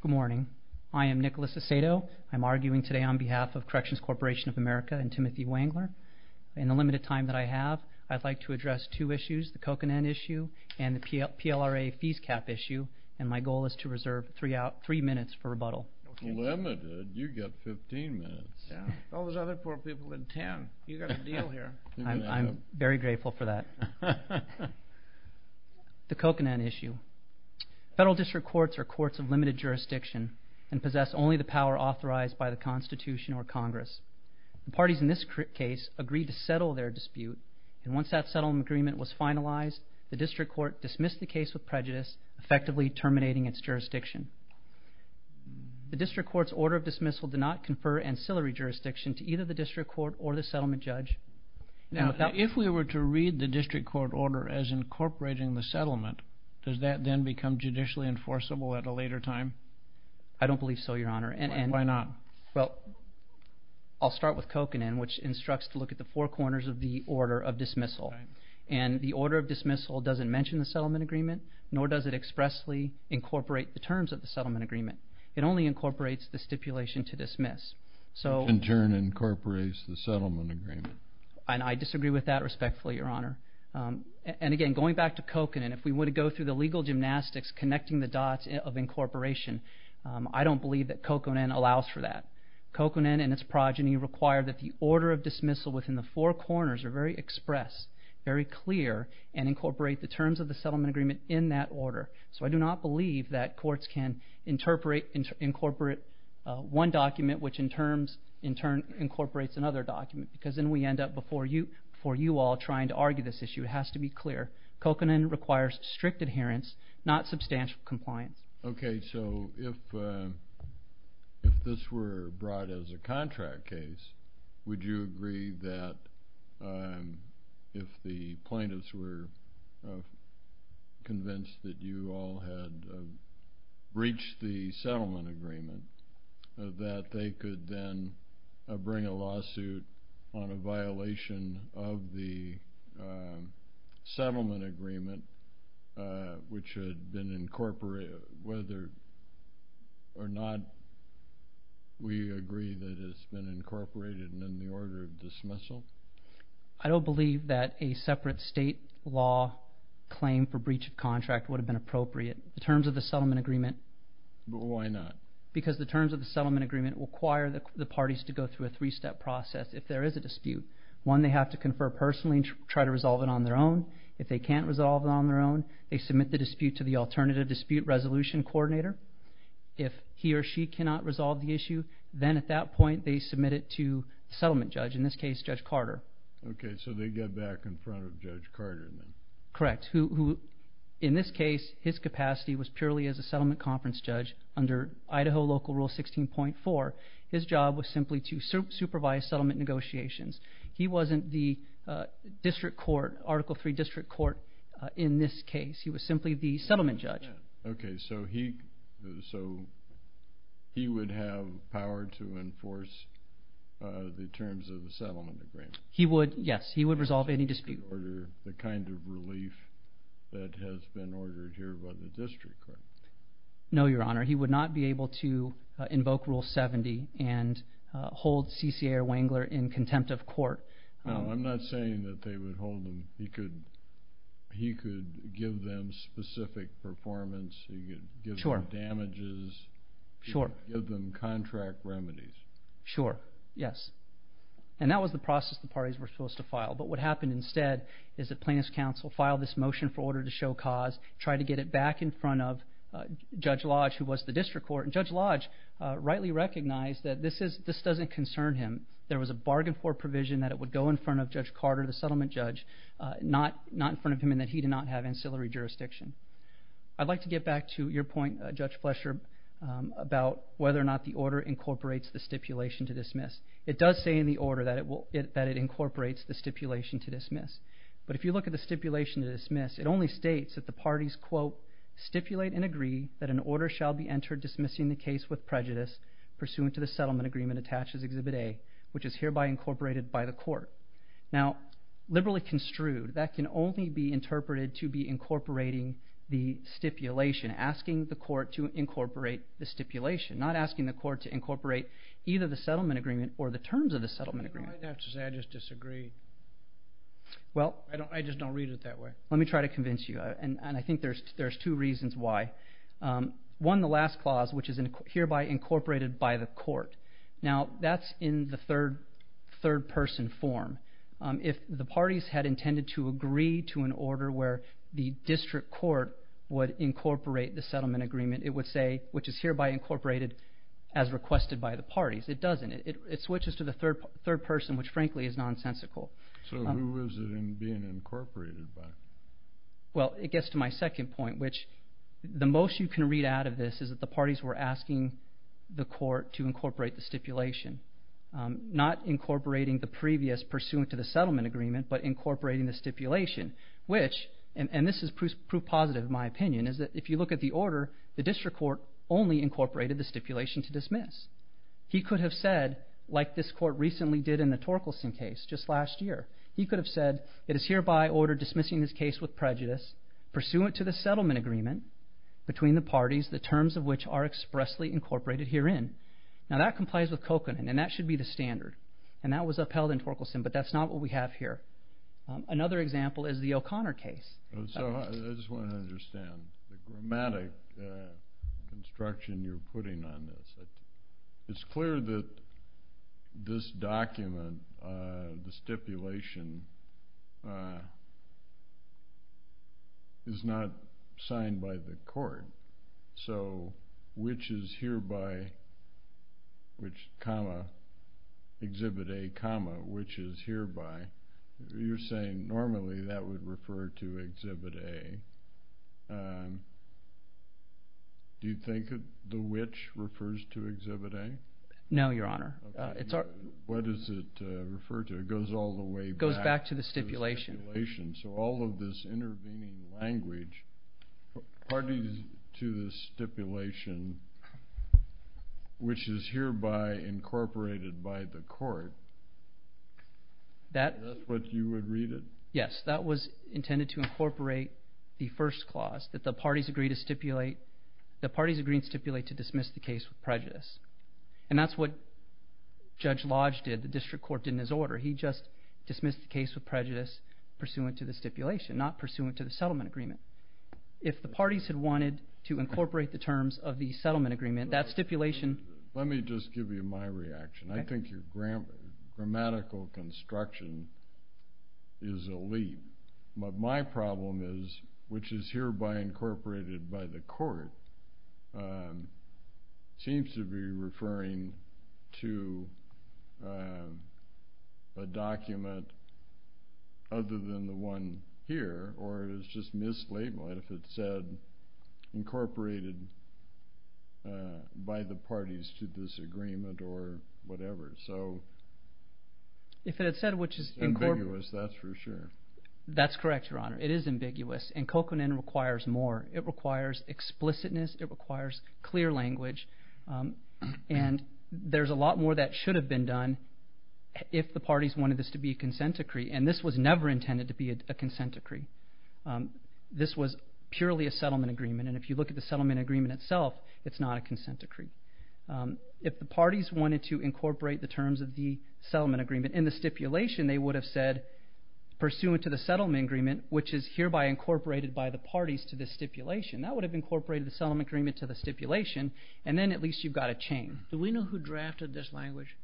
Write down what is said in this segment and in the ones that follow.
Good morning. I am Nicholas Acedo. I'm arguing today on behalf of Corrections Corporation of America and Timothy Wengler. In the limited time that I have, I'd like to address two issues, the Coconan issue and the PLRA fees cap issue. And my goal is to reserve three minutes for rebuttal. Limited? You've got 15 minutes. There's other poor people in town. You've got a deal here. I'm very grateful for that. The Coconan issue. Federal district courts are courts of limited jurisdiction and possess only the power authorized by the Constitution or Congress. The parties in this case agreed to settle their dispute. And once that settlement agreement was finalized, the district court dismissed the case with prejudice, effectively terminating its jurisdiction. The district court's order of dismissal did not confer ancillary jurisdiction to either the district court or the settlement judge. Now, if we were to read the district court order as incorporating the settlement, does that then become judicially enforceable at a later time? I don't believe so, Your Honor. Why not? Well, I'll start with Coconan, which instructs to look at the four corners of the order of dismissal. And the order of dismissal doesn't mention the settlement agreement, nor does it expressly incorporate the terms of the settlement agreement. It only incorporates the stipulation to dismiss. Which in turn incorporates the settlement agreement. And I disagree with that respectfully, Your Honor. And again, going back to Coconan, if we were to go through the legal gymnastics connecting the dots of incorporation, I don't believe that Coconan allows for that. Coconan and its progeny require that the order of dismissal within the four corners are very expressed, very clear, and incorporate the terms of the settlement agreement in that order. So I do not believe that courts can incorporate one document, which in turn incorporates another document. Because then we end up before you all trying to argue this issue. It has to be clear. Coconan requires strict adherence, not substantial compliance. OK, so if this were brought as a contract case, would you agree that if the plaintiffs were convinced that you all had breached the settlement agreement, that they could then bring a lawsuit on a violation of the settlement agreement, which had been incorporated, whether or not we agree that it's been incorporated in the order of dismissal? I don't believe that a separate state law claim for breach of contract would have been appropriate. The terms of the settlement agreement… But why not? Because the terms of the settlement agreement require the parties to go through a three-step process if there is a dispute. One, they have to confer personally and try to resolve it on their own. If they can't resolve it on their own, they submit the dispute to the alternative dispute resolution coordinator. If he or she cannot resolve the issue, then at that point they submit it to the settlement judge, in this case Judge Carter. OK, so they get back in front of Judge Carter then. Correct. In this case, his capacity was purely as a settlement conference judge under Idaho Local Rule 16.4. His job was simply to supervise settlement negotiations. He wasn't the district court, Article III district court in this case. He was simply the settlement judge. OK, so he would have power to enforce the terms of the settlement agreement? He would, yes. He would resolve any dispute. …the kind of relief that has been ordered here by the district court? No, Your Honor. He would not be able to invoke Rule 70 and hold CCA or Wengler in contempt of court. No, I'm not saying that they would hold him. He could give them specific performance. He could give them damages. Sure. He could give them contract remedies. Sure, yes. And that was the process the parties were supposed to file. But what happened instead is that plaintiff's counsel filed this motion for order to show cause, tried to get it back in front of Judge Lodge, who was the district court. And Judge Lodge rightly recognized that this doesn't concern him. There was a bargain for provision that it would go in front of Judge Carter, the settlement judge, not in front of him and that he did not have ancillary jurisdiction. I'd like to get back to your point, Judge Flesher, about whether or not the order incorporates the stipulation to dismiss. It does say in the order that it incorporates the stipulation to dismiss. But if you look at the stipulation to dismiss, it only states that the parties, quote, stipulate and agree that an order shall be entered dismissing the case with prejudice pursuant to the settlement agreement attached as Exhibit A, which is hereby incorporated by the court. Now, liberally construed, that can only be interpreted to be incorporating the stipulation, asking the court to incorporate the stipulation, not asking the court to incorporate either the settlement agreement or the terms of the settlement agreement. You might have to say I just disagree. I just don't read it that way. Let me try to convince you, and I think there's two reasons why. One, the last clause, which is hereby incorporated by the court. Now, that's in the third-person form. If the parties had intended to agree to an order where the district court would incorporate the settlement agreement, it would say, which is hereby incorporated as requested by the parties. It doesn't. It switches to the third person, which, frankly, is nonsensical. So who is it being incorporated by? Well, it gets to my second point, which the most you can read out of this is that the parties were asking the court to incorporate the stipulation, not incorporating the previous pursuant to the settlement agreement, but incorporating the stipulation, which, and this is proof positive, in my opinion, is that if you look at the order, the district court only incorporated the stipulation to dismiss. He could have said, like this court recently did in the Torkelson case just last year, he could have said it is hereby ordered dismissing this case with prejudice, pursuant to the settlement agreement between the parties, the terms of which are expressly incorporated herein. Now, that complies with Kokanen, and that should be the standard, and that was upheld in Torkelson, but that's not what we have here. Another example is the O'Connor case. So I just want to understand the grammatic construction you're putting on this. It's clear that this document, the stipulation, is not signed by the court. So which is hereby, which comma, exhibit A comma, which is hereby, you're saying normally that would refer to exhibit A. Do you think the which refers to exhibit A? No, Your Honor. What does it refer to? It goes all the way back to the stipulation. So all of this intervening language parties to the stipulation, which is hereby incorporated by the court. That's what you would read it? Yes, that was intended to incorporate the first clause, that the parties agree to stipulate to dismiss the case with prejudice. And that's what Judge Lodge did, the district court did in his order. He just dismissed the case with prejudice, pursuant to the stipulation, not pursuant to the settlement agreement. If the parties had wanted to incorporate the terms of the settlement agreement, that stipulation Let me just give you my reaction. I think your grammatical construction is a leap. But my problem is, which is hereby incorporated by the court, seems to be referring to a document other than the one here, or it was just mislabeled if it said incorporated by the parties to this agreement or whatever. So if it had said which is... Ambiguous, that's for sure. That's correct, Your Honor. It is ambiguous. And coconin requires more. It requires explicitness. It requires clear language. And there's a lot more that should have been done if the parties wanted this to be a consent decree. And this was never intended to be a consent decree. This was purely a settlement agreement. And if you look at the settlement agreement itself, it's not a consent decree. If the parties wanted to incorporate the terms of the settlement agreement in the stipulation, they would have said, pursuant to the settlement agreement, which is hereby incorporated by the parties to this stipulation. That would have incorporated the settlement agreement to the stipulation. And then at least you've got a chain. Do we know who drafted this language?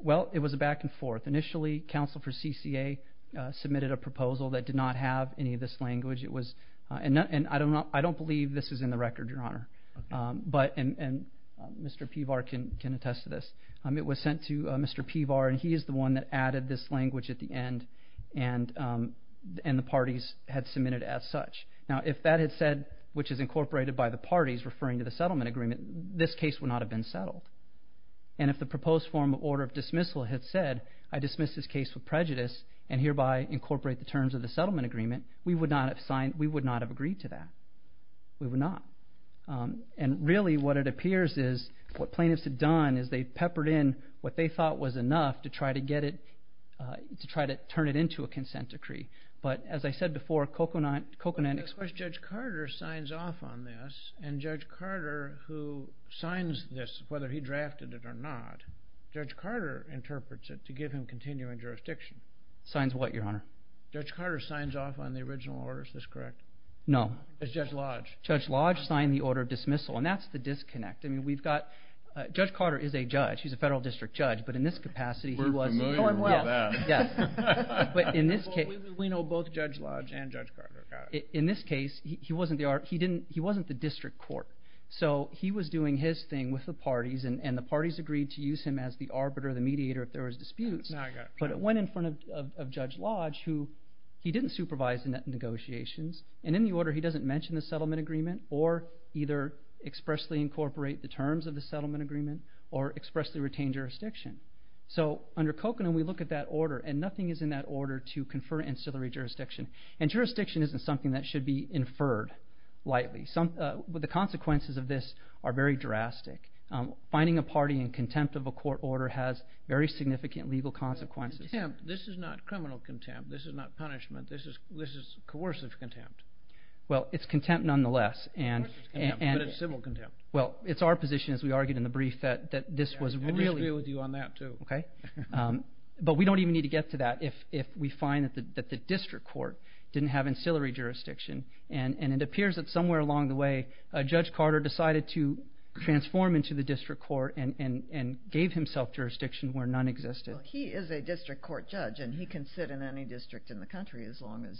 Well, it was a back and forth. Initially, counsel for CCA submitted a proposal that did not have any of this language. And I don't believe this is in the record, Your Honor. And Mr. Pevar can attest to this. It was sent to Mr. Pevar, and he is the one that added this language at the end, and the parties had submitted it as such. Now, if that had said, which is incorporated by the parties referring to the settlement agreement, this case would not have been settled. And if the proposed form of order of dismissal had said, I dismiss this case with prejudice and hereby incorporate the terms of the settlement agreement, we would not have agreed to that. We would not. And really what it appears is what plaintiffs had done is they peppered in what they thought was enough to try to get it to try to turn it into a consent decree. But as I said before, Coconut... Because Judge Carter signs off on this, and Judge Carter, who signs this, whether he drafted it or not, Judge Carter interprets it to give him continuing jurisdiction. Signs what, Your Honor? Judge Carter signs off on the original order. Is this correct? No. Judge Lodge. Judge Lodge signed the order of dismissal, and that's the disconnect. I mean, we've got – Judge Carter is a judge. He's a federal district judge, but in this capacity he was... We're familiar with that. Yes. But in this case... We know both Judge Lodge and Judge Carter. In this case, he wasn't the district court, so he was doing his thing with the parties, and the parties agreed to use him as the arbiter, the mediator, if there was disputes. But it went in front of Judge Lodge, who he didn't supervise the negotiations, and in the order he doesn't mention the settlement agreement or either expressly incorporate the terms of the settlement agreement or expressly retain jurisdiction. So under Coconut we look at that order, and nothing is in that order to confer ancillary jurisdiction. And jurisdiction isn't something that should be inferred lightly. The consequences of this are very drastic. Finding a party in contempt of a court order has very significant legal consequences. This is not criminal contempt. This is not punishment. This is coercive contempt. Well, it's contempt nonetheless. Coercive contempt, but it's civil contempt. Well, it's our position, as we argued in the brief, that this was really... I disagree with you on that too. But we don't even need to get to that if we find that the district court didn't have ancillary jurisdiction. And it appears that somewhere along the way, Judge Carter decided to transform into the district court and gave himself jurisdiction where none existed. He is a district court judge, and he can sit in any district in the country as long as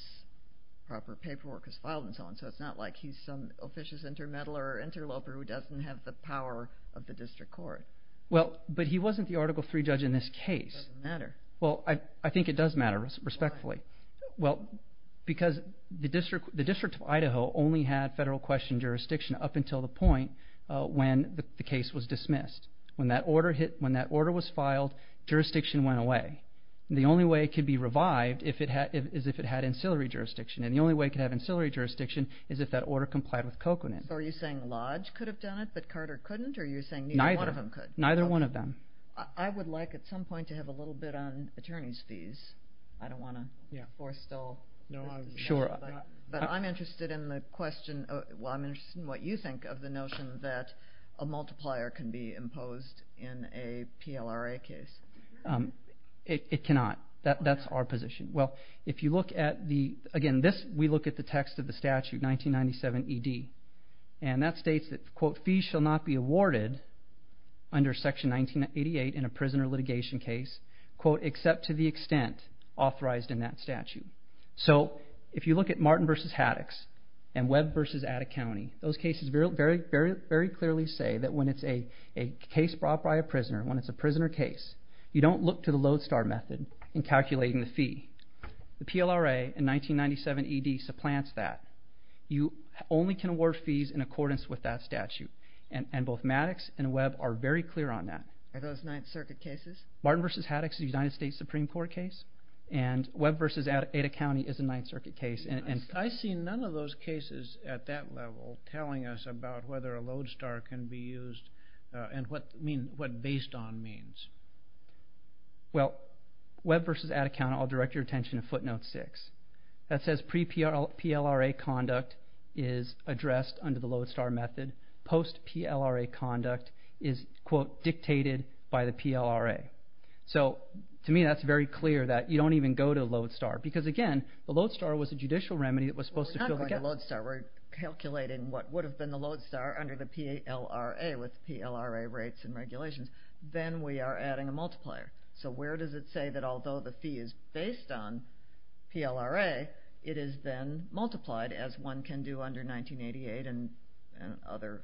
proper paperwork is filed and so on. So it's not like he's some officious intermeddler or interloper who doesn't have the power of the district court. Well, but he wasn't the Article III judge in this case. It doesn't matter. Well, I think it does matter, respectfully. Why? Well, because the District of Idaho only had federal question jurisdiction up until the point when the case was dismissed. When that order was filed, jurisdiction went away. The only way it could be revived is if it had ancillary jurisdiction. And the only way it could have ancillary jurisdiction is if that order complied with Cochran's. So are you saying Lodge could have done it, but Carter couldn't? Or are you saying neither one of them could? Neither one of them. I would like at some point to have a little bit on attorney's fees. I don't want to force still. But I'm interested in the question, well, I'm interested in what you think of the notion that a multiplier can be imposed in a PLRA case. It cannot. That's our position. Well, if you look at the, again, we look at the text of the statute, 1997 ED, and that states that, quote, fees shall not be awarded under Section 1988 in a prisoner litigation case, quote, except to the extent authorized in that statute. So if you look at Martin v. Haddox and Webb v. Attic County, those cases very clearly say that when it's a case brought by a prisoner, when it's a prisoner case, you don't look to the lodestar method in calculating the fee. The PLRA in 1997 ED supplants that. You only can award fees in accordance with that statute, and both Maddox and Webb are very clear on that. Are those Ninth Circuit cases? Martin v. Haddox is a United States Supreme Court case, and Webb v. Attic County is a Ninth Circuit case. I see none of those cases at that level telling us about whether a lodestar can be used and what based on means. Well, Webb v. Attic County, I'll direct your attention to footnote 6. That says pre-PLRA conduct is addressed under the lodestar method. Post-PLRA conduct is, quote, dictated by the PLRA. So to me that's very clear that you don't even go to lodestar because, again, the lodestar was a judicial remedy that was supposed to fill the gap. We're not going to lodestar. We're calculating what would have been the lodestar under the PLRA with PLRA rates and regulations. Then we are adding a multiplier. So where does it say that although the fee is based on PLRA, it is then multiplied as one can do under 1988 and other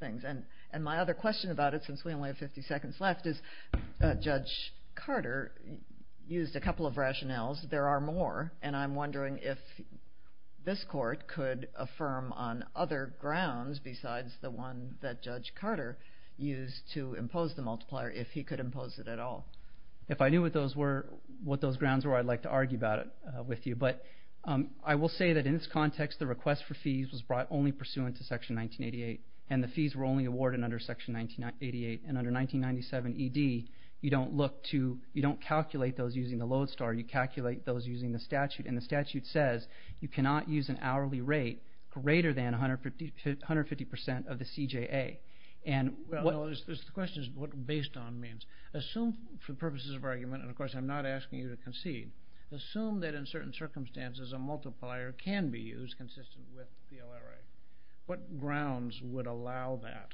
things? And my other question about it, since we only have 50 seconds left, is Judge Carter used a couple of rationales. There are more, and I'm wondering if this court could affirm on other grounds or if he could impose it at all. If I knew what those grounds were, I'd like to argue about it with you. But I will say that in this context, the request for fees was brought only pursuant to Section 1988, and the fees were only awarded under Section 1988. And under 1997 ED, you don't calculate those using the lodestar. You calculate those using the statute, and the statute says you cannot use an hourly rate greater than 150% of the CJA. Well, the question is what based on means. Assume for purposes of argument, and of course I'm not asking you to concede, assume that in certain circumstances a multiplier can be used consistent with PLRA. What grounds would allow that?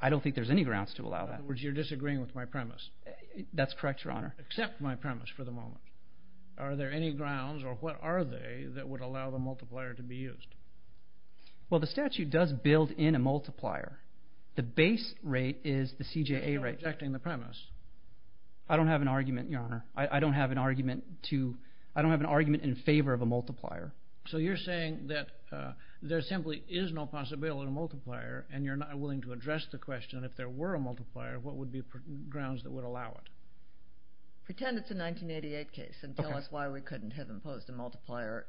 I don't think there's any grounds to allow that. In other words, you're disagreeing with my premise. That's correct, Your Honor. Except my premise for the moment. Are there any grounds, or what are they, that would allow the multiplier to be used? Well, the statute does build in a multiplier. The base rate is the CJA rate. But you're not rejecting the premise. I don't have an argument, Your Honor. I don't have an argument in favor of a multiplier. So you're saying that there simply is no possibility of a multiplier, and you're not willing to address the question if there were a multiplier, what would be grounds that would allow it? Pretend it's a 1988 case and tell us why we couldn't have imposed a multiplier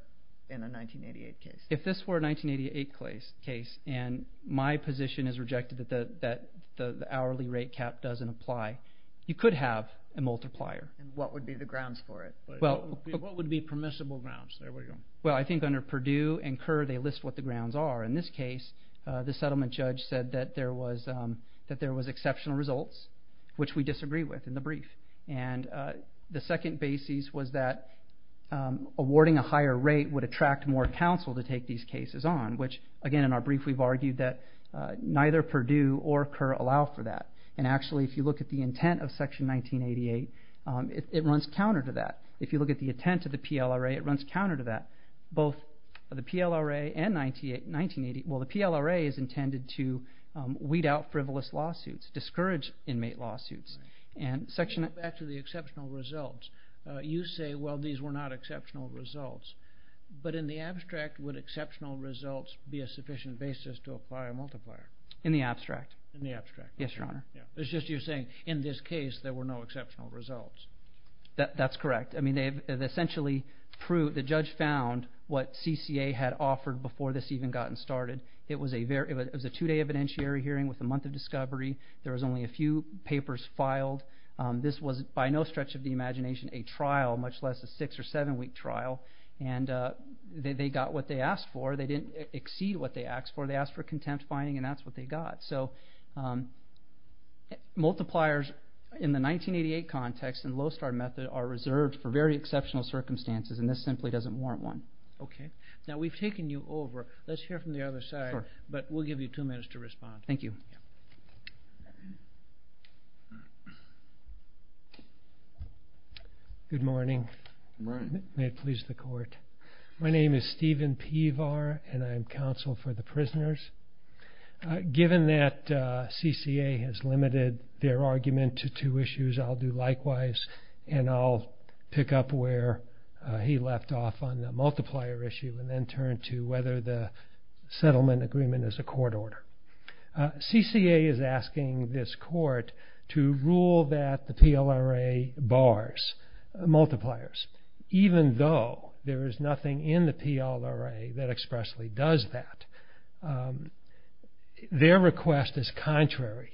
in a 1988 case. If this were a 1988 case, and my position is rejected that the hourly rate cap doesn't apply, you could have a multiplier. And what would be the grounds for it? What would be permissible grounds? Well, I think under Perdue and Kerr they list what the grounds are. In this case, the settlement judge said that there was exceptional results, which we disagree with in the brief. And the second basis was that awarding a higher rate would attract more counsel to take these cases on, which again in our brief we've argued that neither Perdue or Kerr allow for that. And actually if you look at the intent of Section 1988, it runs counter to that. If you look at the intent of the PLRA, it runs counter to that. Both the PLRA and 1988, well the PLRA is intended to weed out frivolous lawsuits, discourage inmate lawsuits. Go back to the exceptional results. You say, well, these were not exceptional results. But in the abstract, would exceptional results be a sufficient basis to apply a multiplier? In the abstract. In the abstract. Yes, Your Honor. It's just you're saying in this case there were no exceptional results. That's correct. I mean they've essentially proved, the judge found what CCA had offered before this even got started. It was a two-day evidentiary hearing with a month of discovery. There was only a few papers filed. This was by no stretch of the imagination a trial, much less a six- or seven-week trial. And they got what they asked for. They didn't exceed what they asked for. They asked for contempt finding, and that's what they got. So multipliers in the 1988 context in the low-star method are reserved for very exceptional circumstances, and this simply doesn't warrant one. Okay. Now we've taken you over. Let's hear from the other side. Sure. But we'll give you two minutes to respond. Thank you. Good morning. Good morning. May it please the Court. My name is Stephen Pevar, and I'm counsel for the prisoners. Given that CCA has limited their argument to two issues, I'll do likewise, and I'll pick up where he left off on the multiplier issue and then turn to whether the settlement agreement is a court order. CCA is asking this Court to rule that the PLRA bars multipliers, even though there is nothing in the PLRA that expressly does that. Their request is contrary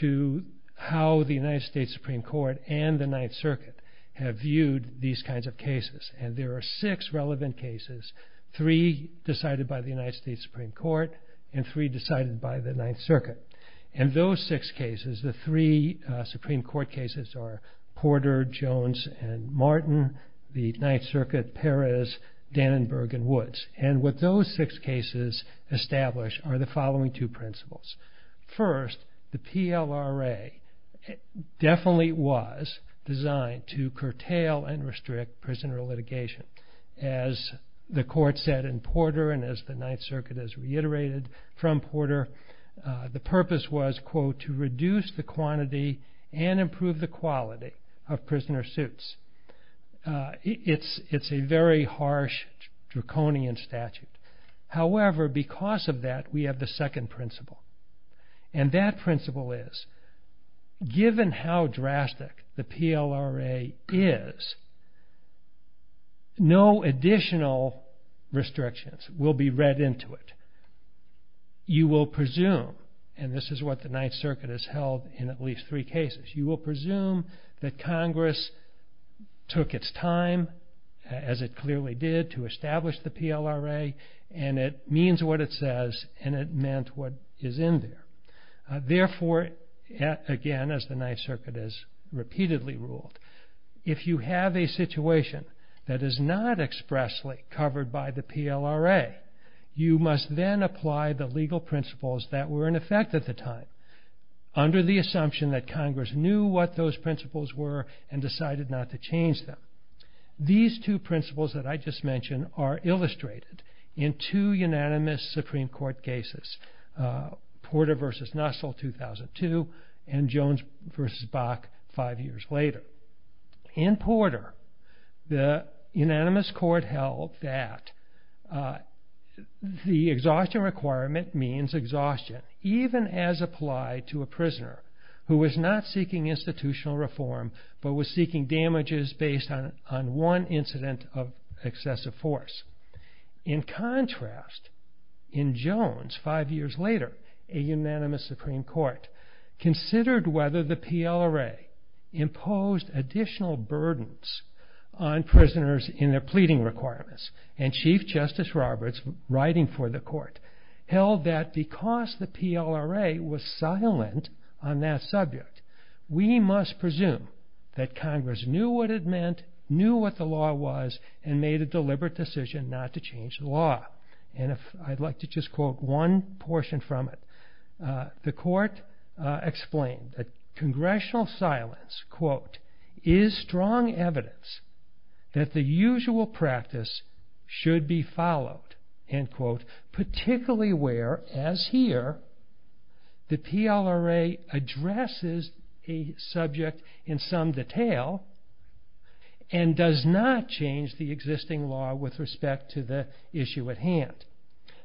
to how the United States Supreme Court and the Ninth Circuit have viewed these kinds of cases, and there are six relevant cases, three decided by the United States Supreme Court and three decided by the Ninth Circuit. In those six cases, the three Supreme Court cases are Porter, Jones, and Martin, the Ninth Circuit, Perez, Dannenberg, and Woods, and what those six cases establish are the following two principles. First, the PLRA definitely was designed to curtail and restrict prisoner litigation. As the Court said in Porter and as the Ninth Circuit has reiterated from Porter, the purpose was, quote, to reduce the quantity and improve the quality of prisoner suits. It's a very harsh, draconian statute. However, because of that, we have the second principle, and that principle is given how drastic the PLRA is, no additional restrictions will be read into it. You will presume, and this is what the Ninth Circuit has held in at least three cases, you will presume that Congress took its time, as it clearly did, to establish the PLRA, and it means what it says, and it meant what is in there. Therefore, again, as the Ninth Circuit has repeatedly ruled, if you have a situation that is not expressly covered by the PLRA, you must then apply the legal principles that were in effect at the time. Under the assumption that Congress knew what those principles were and decided not to change them. These two principles that I just mentioned are illustrated in two unanimous Supreme Court cases, Porter v. Nussel, 2002, and Jones v. Bach, five years later. In Porter, the unanimous court held that the exhaustion requirement means exhaustion, even as applied to a prisoner who was not seeking institutional reform, but was seeking damages based on one incident of excessive force. In contrast, in Jones, five years later, a unanimous Supreme Court considered whether the PLRA imposed additional burdens on prisoners in their pleading requirements, and Chief Justice Roberts, writing for the court, held that because the PLRA was silent on that subject, we must presume that Congress knew what it meant, knew what the law was, and made a deliberate decision not to change the law. And I'd like to just quote one portion from it. The court explained that congressional silence, quote, is strong evidence that the usual practice should be followed, end quote, particularly where, as here, the PLRA addresses a subject in some detail and does not change the existing law with respect to the issue at hand.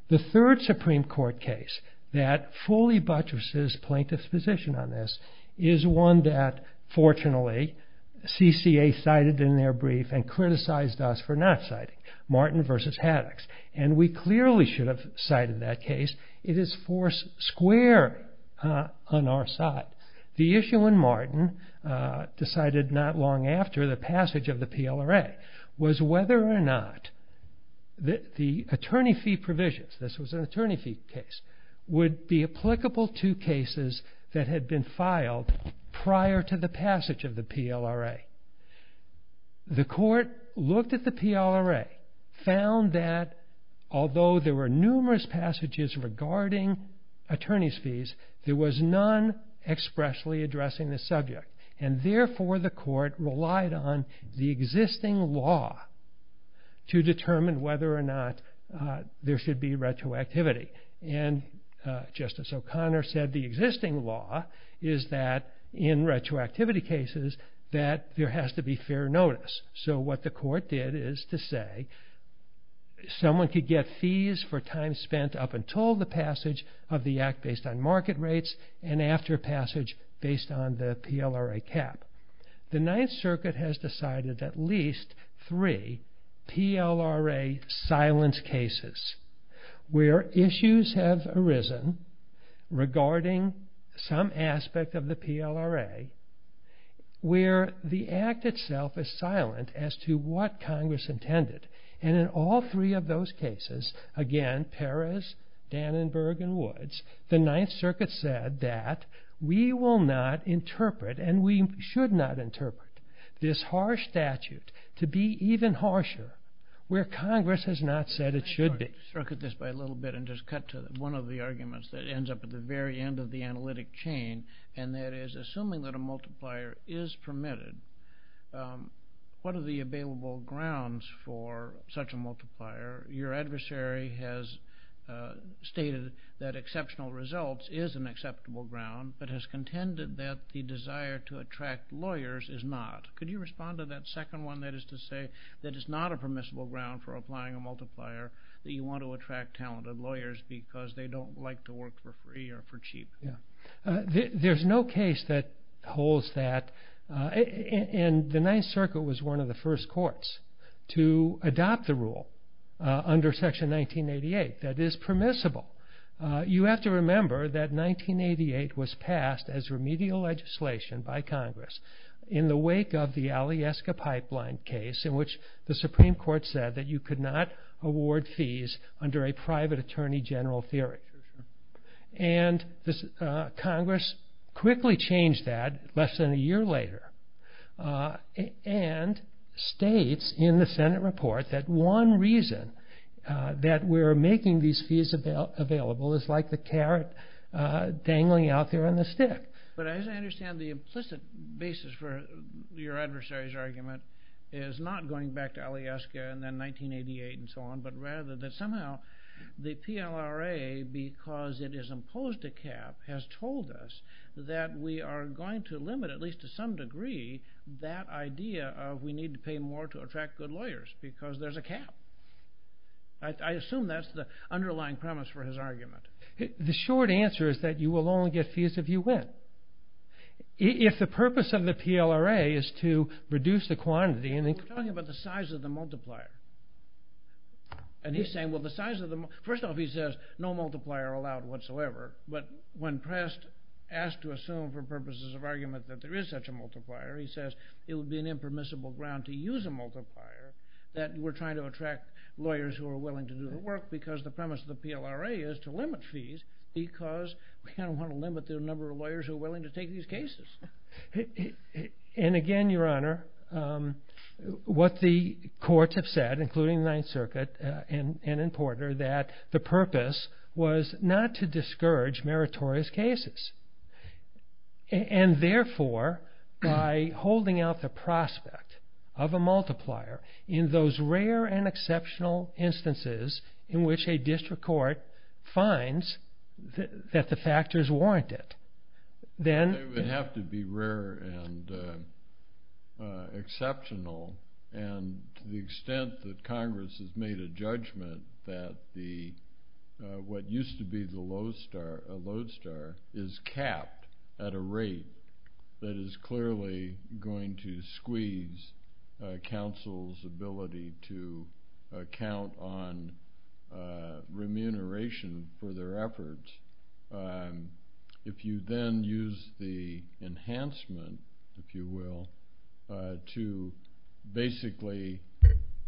The third Supreme Court case that fully buttresses plaintiff's position on this is one that, fortunately, CCA cited in their brief and criticized us for not citing, Martin v. Haddox, and we clearly should have cited that case. It is four square on our side. The issue in Martin, decided not long after the passage of the PLRA, was whether or not the attorney fee provisions, this was an attorney fee case, would be applicable to cases that had been filed prior to the passage of the PLRA. The court looked at the PLRA, found that although there were numerous passages regarding attorney's fees, there was none expressly addressing the subject. And therefore, the court relied on the existing law to determine whether or not there should be retroactivity. And Justice O'Connor said the existing law is that in retroactivity cases that there has to be fair notice. So what the court did is to say, someone could get fees for time spent up until the passage of the Act based on market rates and after passage based on the PLRA cap. The Ninth Circuit has decided at least three PLRA silence cases where issues have arisen regarding some aspect of the PLRA where the Act itself is silent as to what Congress intended. And in all three of those cases, again, Perez, Dannenberg, and Woods, the Ninth Circuit said that we will not interpret, and we should not interpret, this harsh statute to be even harsher where Congress has not said it should be. I'm going to circuit this by a little bit and just cut to one of the arguments that ends up at the very end of the analytic chain. And that is, assuming that a multiplier is permitted, what are the available grounds for such a multiplier? Your adversary has stated that exceptional results is an acceptable ground but has contended that the desire to attract lawyers is not. Could you respond to that second one? That is to say that it's not a permissible ground for applying a multiplier that you want to attract talented lawyers because they don't like to work for free or for cheap. There's no case that holds that. And the Ninth Circuit was one of the first courts to adopt the rule under Section 1988 that is permissible. You have to remember that 1988 was passed as remedial legislation by Congress in the wake of the Alyeska Pipeline case in which the Supreme Court said that you could not award fees under a private attorney general theory. And Congress quickly changed that less than a year later and states in the Senate report that one reason that we're making these fees available is like the carrot dangling out there on the stick. But as I understand the implicit basis for your adversary's argument is not going back to Alyeska and then 1988 and so on but rather that somehow the PLRA, because it has imposed a cap, has told us that we are going to limit, at least to some degree, that idea of we need to pay more to attract good lawyers because there's a cap. I assume that's the underlying premise for his argument. The short answer is that you will only get fees if you win. If the purpose of the PLRA is to reduce the quantity... We're talking about the size of the multiplier. First off, he says no multiplier allowed whatsoever, but when pressed, asked to assume for purposes of argument that there is such a multiplier, he says it would be an impermissible ground to use a multiplier that we're trying to attract lawyers who are willing to do the work because the premise of the PLRA is to limit fees because we want to limit the number of lawyers who are willing to take these cases. And again, Your Honor, what the courts have said, including the Ninth Circuit and in Porter, that the purpose was not to discourage meritorious cases and therefore by holding out the prospect of a multiplier in those rare and exceptional instances in which a district court finds that the factors warrant it, then... It would have to be rare and exceptional. And to the extent that Congress has made a judgment that what used to be the lodestar is capped at a rate that is clearly going to squeeze counsel's ability to count on remuneration for their efforts, if you then use the enhancement, if you will, to basically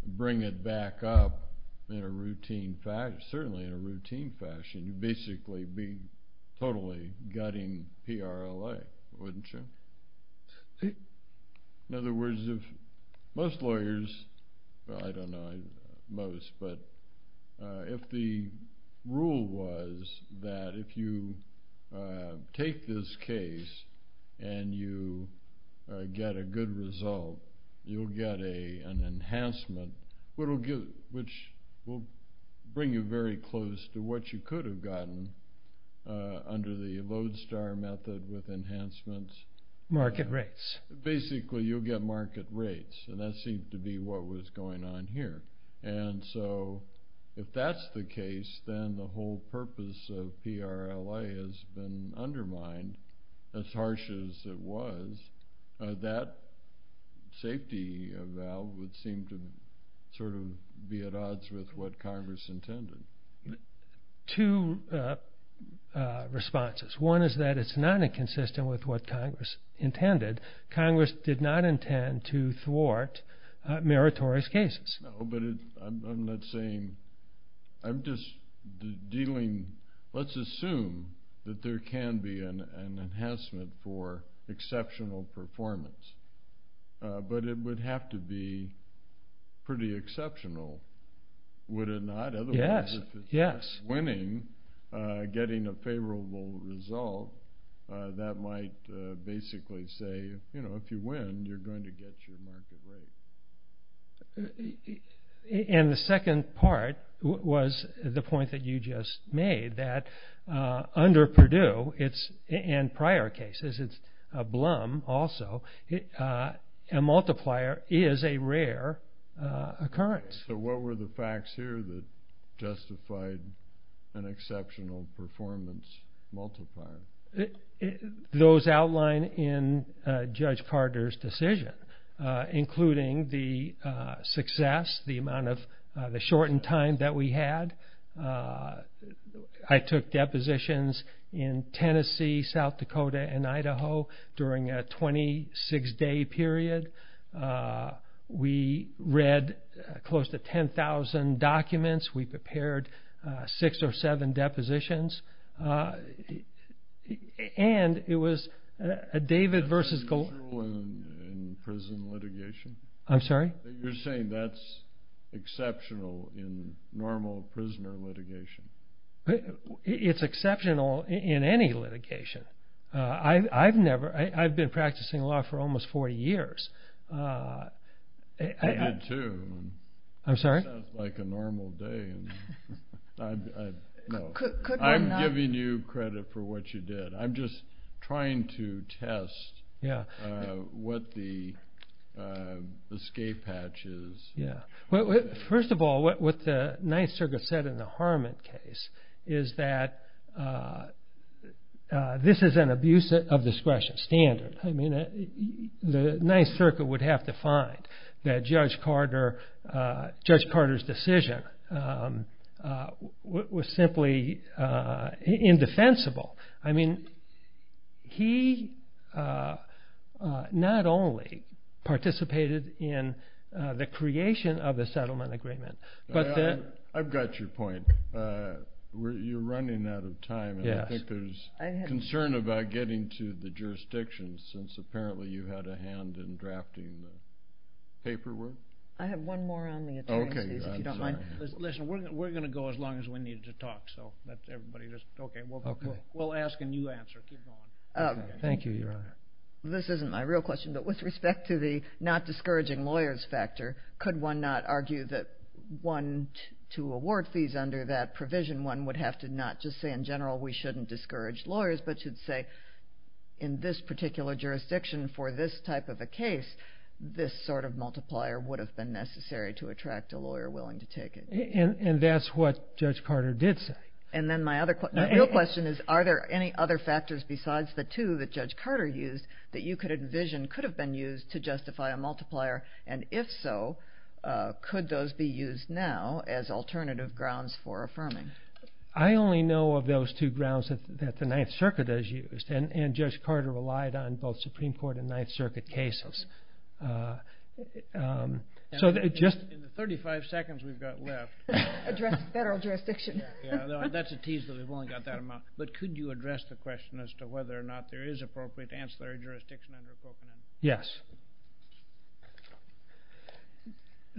bring it back up in a routine fashion, certainly in a routine fashion, you'd basically be totally gutting PLRA, wouldn't you? In other words, if most lawyers, I don't know, most, but if the rule was that if you take this case and you get a good result, you'll get an enhancement, which will bring you very close to what you could have gotten under the lodestar method with enhancements. Market rates. Basically, you'll get market rates, and that seemed to be what was going on here. And so if that's the case, then the whole purpose of PLRA has been undermined, as harsh as it was. That safety valve would seem to sort of be at odds with what Congress intended. Two responses. One is that it's not inconsistent with what Congress intended. Congress did not intend to thwart meritorious cases. No, but I'm not saying, I'm just dealing, let's assume that there can be an enhancement for exceptional performance, but it would have to be pretty exceptional, would it not? Otherwise, if it's winning, getting a favorable result, that might basically say if you win, you're going to get your market rate. And the second part was the point that you just made, that under Purdue, and prior cases, it's a blum also, a multiplier is a rare occurrence. So what were the facts here that justified an exceptional performance multiplier? Those outlined in Judge Carter's decision, including the success, the amount of the shortened time that we had. I took depositions in Tennessee, South Dakota, and Idaho during a 26-day period. We read close to 10,000 documents. We prepared six or seven depositions. And it was a David versus Gol- Is that true in prison litigation? I'm sorry? You're saying that's exceptional in normal prisoner litigation? It's exceptional in any litigation. I've never, I've been practicing law for almost 40 years. I did too. I'm sorry? It sounds like a normal day. I'm giving you credit for what you did. I'm just trying to test what the escape hatch is. First of all, what the Ninth Circuit said in the Harmon case is that this is an abuse of discretion standard. The Ninth Circuit would have to find that Judge Carter's decision was simply indefensible. I mean, he not only participated in the creation of the settlement agreement, but the- I've got your point. You're running out of time, and I think there's concern about getting to the jurisdictions since apparently you had a hand in drafting the paperwork. I have one more on the attorney's fees, if you don't mind. Listen, we're going to go as long as we need to talk, so let everybody just- Okay. We'll ask and you answer. Keep going. Thank you, Your Honor. This isn't my real question, but with respect to the not discouraging lawyers factor, could one not argue that one, to award fees under that provision, one would have to not just say in general we shouldn't discourage lawyers, but should say in this particular jurisdiction for this type of a case, this sort of multiplier would have been necessary to attract a lawyer willing to take it. And that's what Judge Carter did say. And then my real question is, are there any other factors besides the two that Judge Carter used that you could envision could have been used to justify a multiplier, and if so, could those be used now as alternative grounds for affirming? I only know of those two grounds that the Ninth Circuit has used, and Judge Carter relied on both Supreme Court and Ninth Circuit cases. In the 35 seconds we've got left- Address federal jurisdiction. That's a tease that we've only got that amount. But could you address the question as to whether or not there is appropriate ancillary jurisdiction under Covenant? Yes.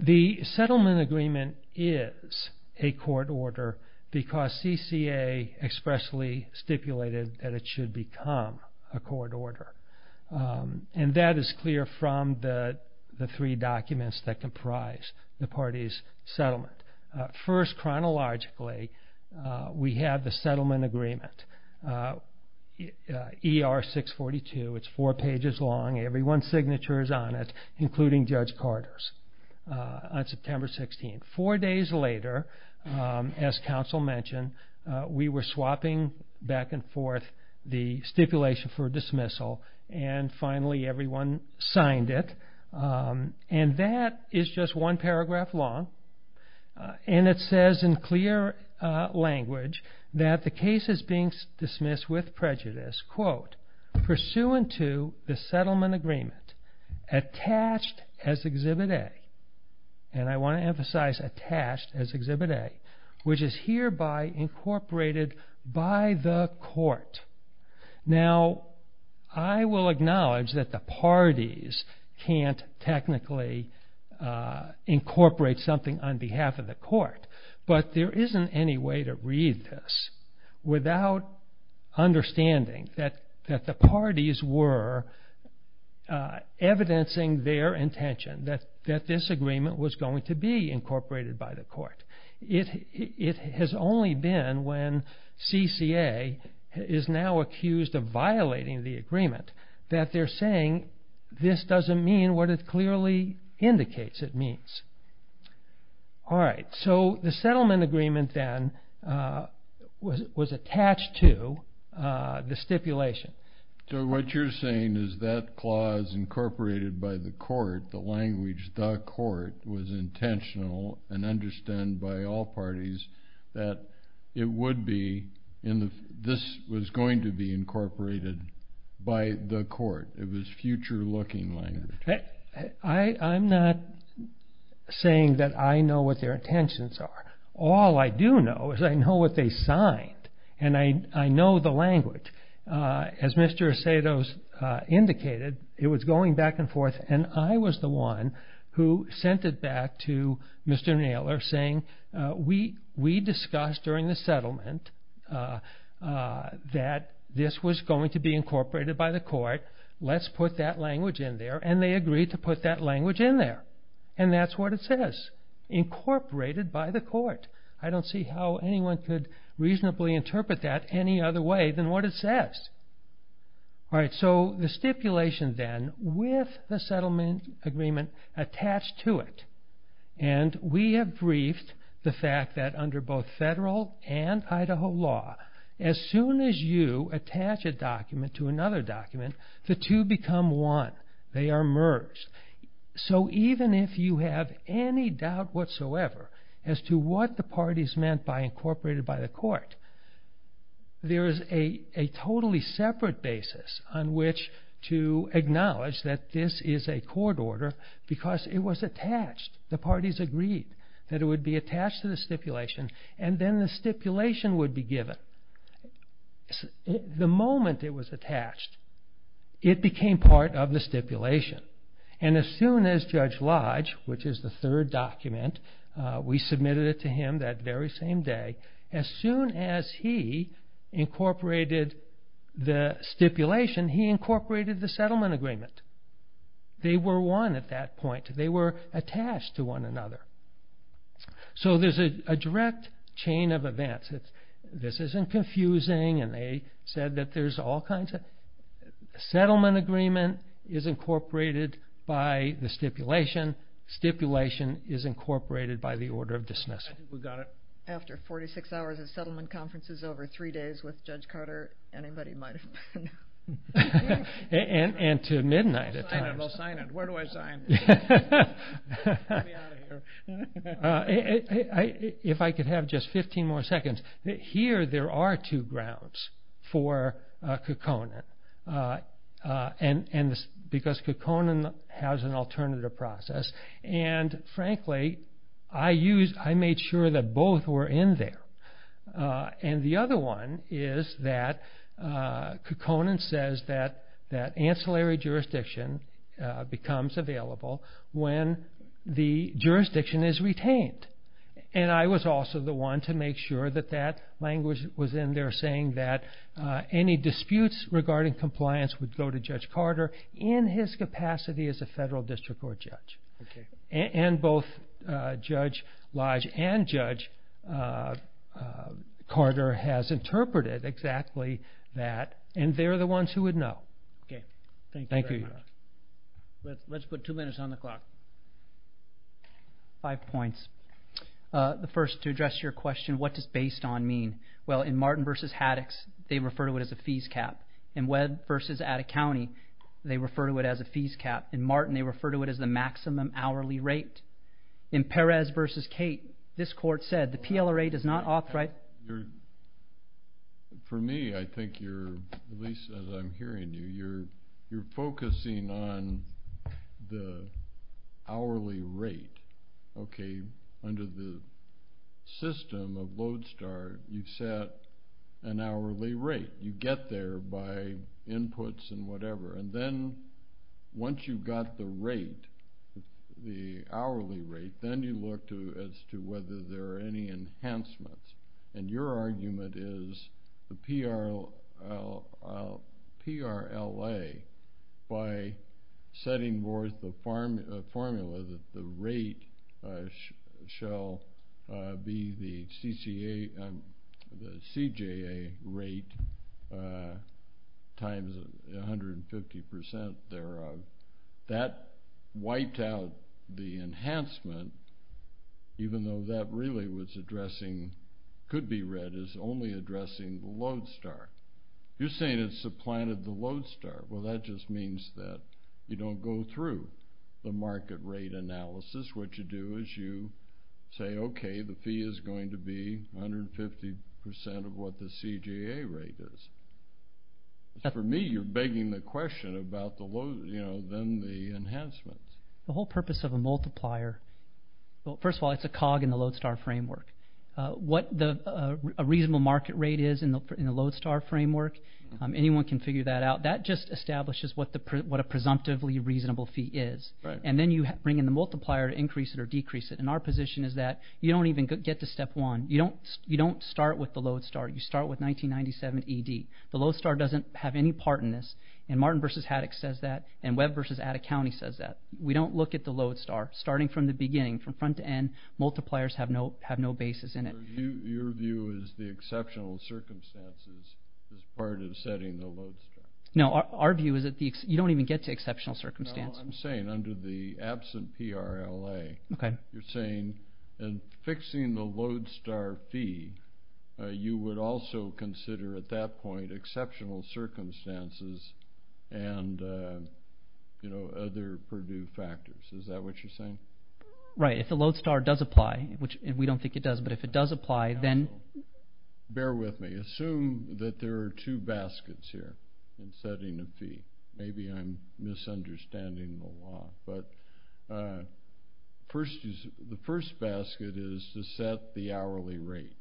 The settlement agreement is a court order because CCA expressly stipulated that it should become a court order. And that is clear from the three documents that comprise the party's settlement. First, chronologically, we have the settlement agreement, ER 642. It's four pages long. Every one signature is on it, including Judge Carter's, on September 16th. Four days later, as counsel mentioned, we were swapping back and forth the stipulation for dismissal, and finally everyone signed it. And that is just one paragraph long, and it says in clear language that the case is being dismissed with prejudice, quote, pursuant to the settlement agreement attached as Exhibit A. And I want to emphasize attached as Exhibit A, which is hereby incorporated by the court. Now, I will acknowledge that the parties can't technically incorporate something on behalf of the court, but there isn't any way to read this without understanding that the parties were evidencing their intention that this agreement was going to be incorporated by the court. It has only been when CCA is now accused of violating the agreement that they're saying this doesn't mean what it clearly indicates it means. All right. So the settlement agreement then was attached to the stipulation. So what you're saying is that clause incorporated by the court, the language the court was intentional and understand by all parties that it would be, this was going to be incorporated by the court. It was future-looking language. I'm not saying that I know what their intentions are. All I do know is I know what they signed, and I know the language. As Mr. Aceto indicated, it was going back and forth, and I was the one who sent it back to Mr. Naylor saying, we discussed during the settlement that this was going to be incorporated by the court. Let's put that language in there, and they agreed to put that language in there, and that's what it says, incorporated by the court. I don't see how anyone could reasonably interpret that any other way than what it says. All right. So the stipulation then with the settlement agreement attached to it, and we have briefed the fact that under both federal and Idaho law, as soon as you attach a document to another document, the two become one. They are merged. So even if you have any doubt whatsoever as to what the parties meant by incorporated by the court, there is a totally separate basis on which to acknowledge that this is a court order because it was attached. The parties agreed that it would be attached to the stipulation, and then the stipulation would be given. The moment it was attached, it became part of the stipulation, and as soon as Judge Lodge, which is the third document, we submitted it to him that very same day, as soon as he incorporated the stipulation, he incorporated the settlement agreement. They were one at that point. They were attached to one another. So there's a direct chain of events. This isn't confusing, and they said that there's all kinds of settlement agreement is incorporated by the stipulation. Stipulation is incorporated by the order of dismissal. I think we got it. After 46 hours of settlement conferences over three days with Judge Carter, anybody might have been. And to midnight at times. Sign it. I'll sign it. Where do I sign? Get me out of here. If I could have just 15 more seconds. Here there are two grounds for Kokonan because Kokonan has an alternative process, and frankly, I made sure that both were in there. And the other one is that Kokonan says that ancillary jurisdiction becomes available when the jurisdiction is retained. And I was also the one to make sure that that language was in there, saying that any disputes regarding compliance would go to Judge Carter in his capacity as a federal district court judge. And both Judge Lodge and Judge Carter has interpreted exactly that, and they're the ones who would know. Okay. Thank you very much. Let's put two minutes on the clock. Five points. The first, to address your question, what does based on mean? Well, in Martin v. Haddox, they refer to it as a fees cap. In Webb v. Atta County, they refer to it as a fees cap. In Martin, they refer to it as the maximum hourly rate. In Perez v. Cate, this court said the PLRA does not authorize. For me, I think you're, at least as I'm hearing you, you're focusing on the hourly rate. Okay. Under the system of Lodestar, you set an hourly rate. You get there by inputs and whatever. And then once you've got the rate, the hourly rate, then you look as to whether there are any enhancements. And your argument is the PLRA, by setting forth the formula, that the rate shall be the CJA rate times 150% thereof. That wiped out the enhancement, even though that really was addressing, could be read as only addressing the Lodestar. You're saying it's supplanted the Lodestar. Well, that just means that you don't go through the market rate analysis. What you do is you say, okay, the fee is going to be 150% of what the CJA rate is. For me, you're begging the question about the enhancements. The whole purpose of a multiplier, first of all, it's a cog in the Lodestar framework. What a reasonable market rate is in the Lodestar framework, anyone can figure that out. That just establishes what a presumptively reasonable fee is. And then you bring in the multiplier to increase it or decrease it. And our position is that you don't even get to step one. You don't start with the Lodestar. You start with 1997 ED. The Lodestar doesn't have any part in this. And Martin v. Haddock says that, and Webb v. Atta County says that. We don't look at the Lodestar. So your view is the exceptional circumstances is part of setting the Lodestar. No, our view is that you don't even get to exceptional circumstance. No, I'm saying under the absent PRLA, you're saying in fixing the Lodestar fee, you would also consider at that point exceptional circumstances and other purdue factors. Is that what you're saying? Right, if the Lodestar does apply, which we don't think it does, but if it does apply, then? Bear with me. Assume that there are two baskets here in setting a fee. Maybe I'm misunderstanding the law. But the first basket is to set the hourly rate.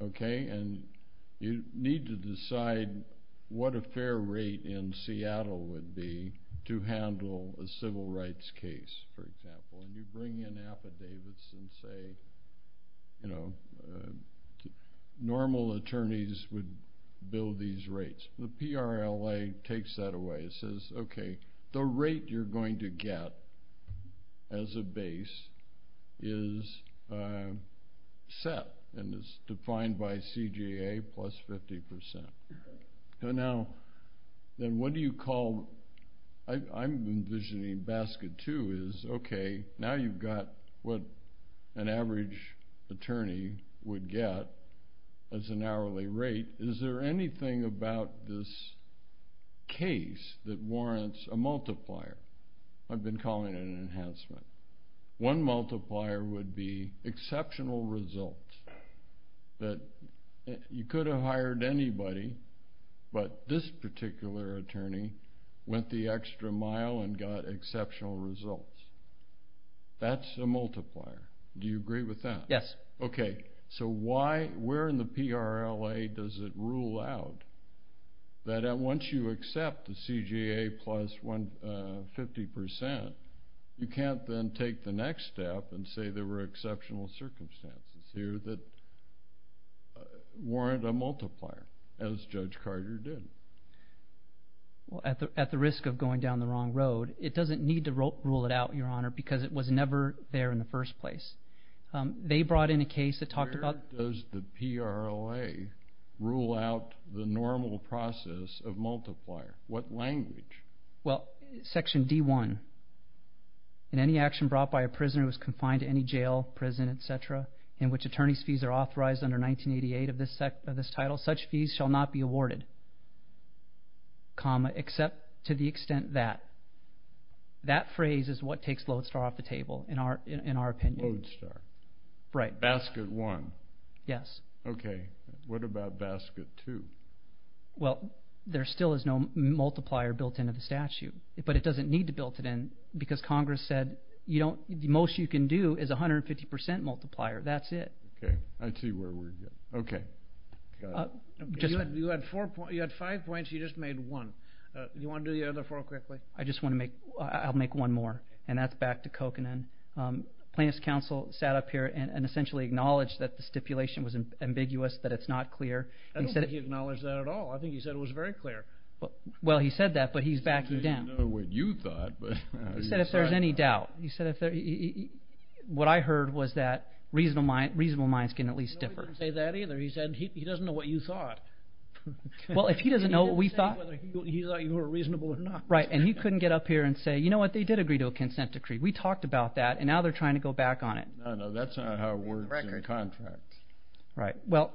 And you need to decide what a fair rate in Seattle would be to handle a civil rights case, for example. And you bring in affidavits and say normal attorneys would bill these rates. The PRLA takes that away and says, okay, the rate you're going to get as a base is set and is defined by CGA plus 50%. I'm envisioning basket two is, okay, now you've got what an average attorney would get as an hourly rate. Is there anything about this case that warrants a multiplier? I've been calling it an enhancement. One multiplier would be exceptional results. You could have hired anybody, but this particular attorney went the extra mile and got exceptional results. That's a multiplier. Do you agree with that? Yes. Okay, so where in the PRLA does it rule out that once you accept the CGA plus 50%, you can't then take the next step and say there were exceptional circumstances here that warrant a multiplier, as Judge Carter did. Well, at the risk of going down the wrong road, it doesn't need to rule it out, Your Honor, because it was never there in the first place. They brought in a case that talked about the— Where does the PRLA rule out the normal process of multiplier? What language? Well, Section D-1. In any action brought by a prisoner who is confined to any jail, prison, et cetera, in which attorney's fees are authorized under 1988 of this title, such fees shall not be awarded, except to the extent that. That phrase is what takes Lodestar off the table, in our opinion. Lodestar. Right. Basket one. Yes. Okay. What about basket two? Well, there still is no multiplier built into the statute, but it doesn't need to build it in because Congress said the most you can do is 150% multiplier. That's it. Okay. I see where we're getting. Okay. You had five points. You just made one. Do you want to do the other four quickly? I'll make one more, and that's back to Kokanen. Plaintiff's counsel sat up here and essentially acknowledged that the stipulation was ambiguous, that it's not clear. I don't think he acknowledged that at all. I think he said it was very clear. Well, he said that, but he's backing down. He didn't know what you thought. He said if there's any doubt. He said what I heard was that reasonable minds can at least differ. He didn't say that either. He said he doesn't know what you thought. Well, if he doesn't know what we thought. He didn't say whether he thought you were reasonable or not. Right, and he couldn't get up here and say, you know what, they did agree to a consent decree. We talked about that, and now they're trying to go back on it. No, no, that's not how it works in contracts. Right. Well,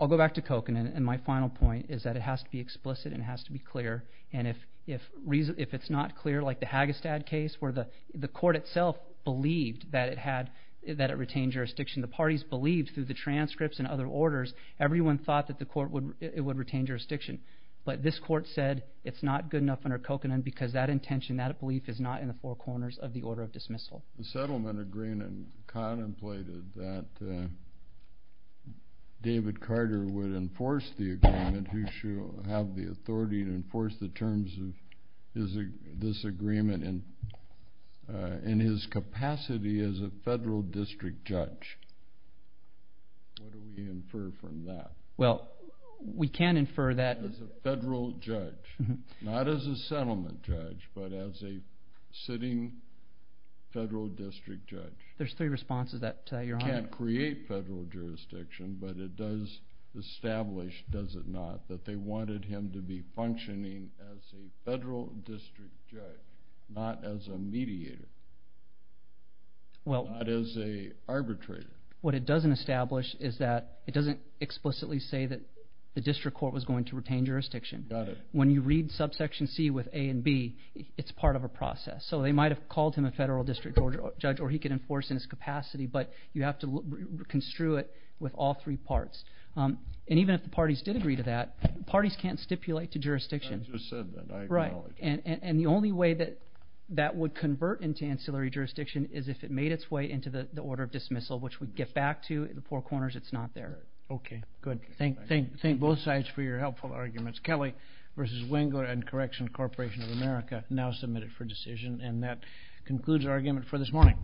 I'll go back to Kokanen, and my final point is that it has to be explicit and it has to be clear, and if it's not clear like the Hagestad case where the court itself believed that it retained jurisdiction, the parties believed through the transcripts and other orders, everyone thought that it would retain jurisdiction, but this court said it's not good enough under Kokanen because that intention, that belief is not in the four corners of the order of dismissal. The settlement agreement contemplated that David Carter would enforce the agreement. He should have the authority to enforce the terms of this agreement in his capacity as a federal district judge. What do we infer from that? Well, we can infer that as a federal judge, not as a settlement judge, but as a sitting federal district judge. There's three responses to that, Your Honor. It can't create federal jurisdiction, but it does establish, does it not, that they wanted him to be functioning as a federal district judge, not as a mediator, not as an arbitrator. What it doesn't establish is that it doesn't explicitly say that the district court was going to retain jurisdiction. Got it. When you read subsection C with A and B, it's part of a process. So they might have called him a federal district judge, or he could enforce in his capacity, but you have to construe it with all three parts. And even if the parties did agree to that, parties can't stipulate to jurisdiction. I just said that. I acknowledge that. Right. And the only way that that would convert into ancillary jurisdiction is if it made its way into the order of dismissal, which we get back to in the four corners, it's not there. Okay. Good. Thank both sides for your helpful arguments. Kelly v. Wengler & Correction Corporation of America, now submitted for decision. And that concludes our argument for this morning.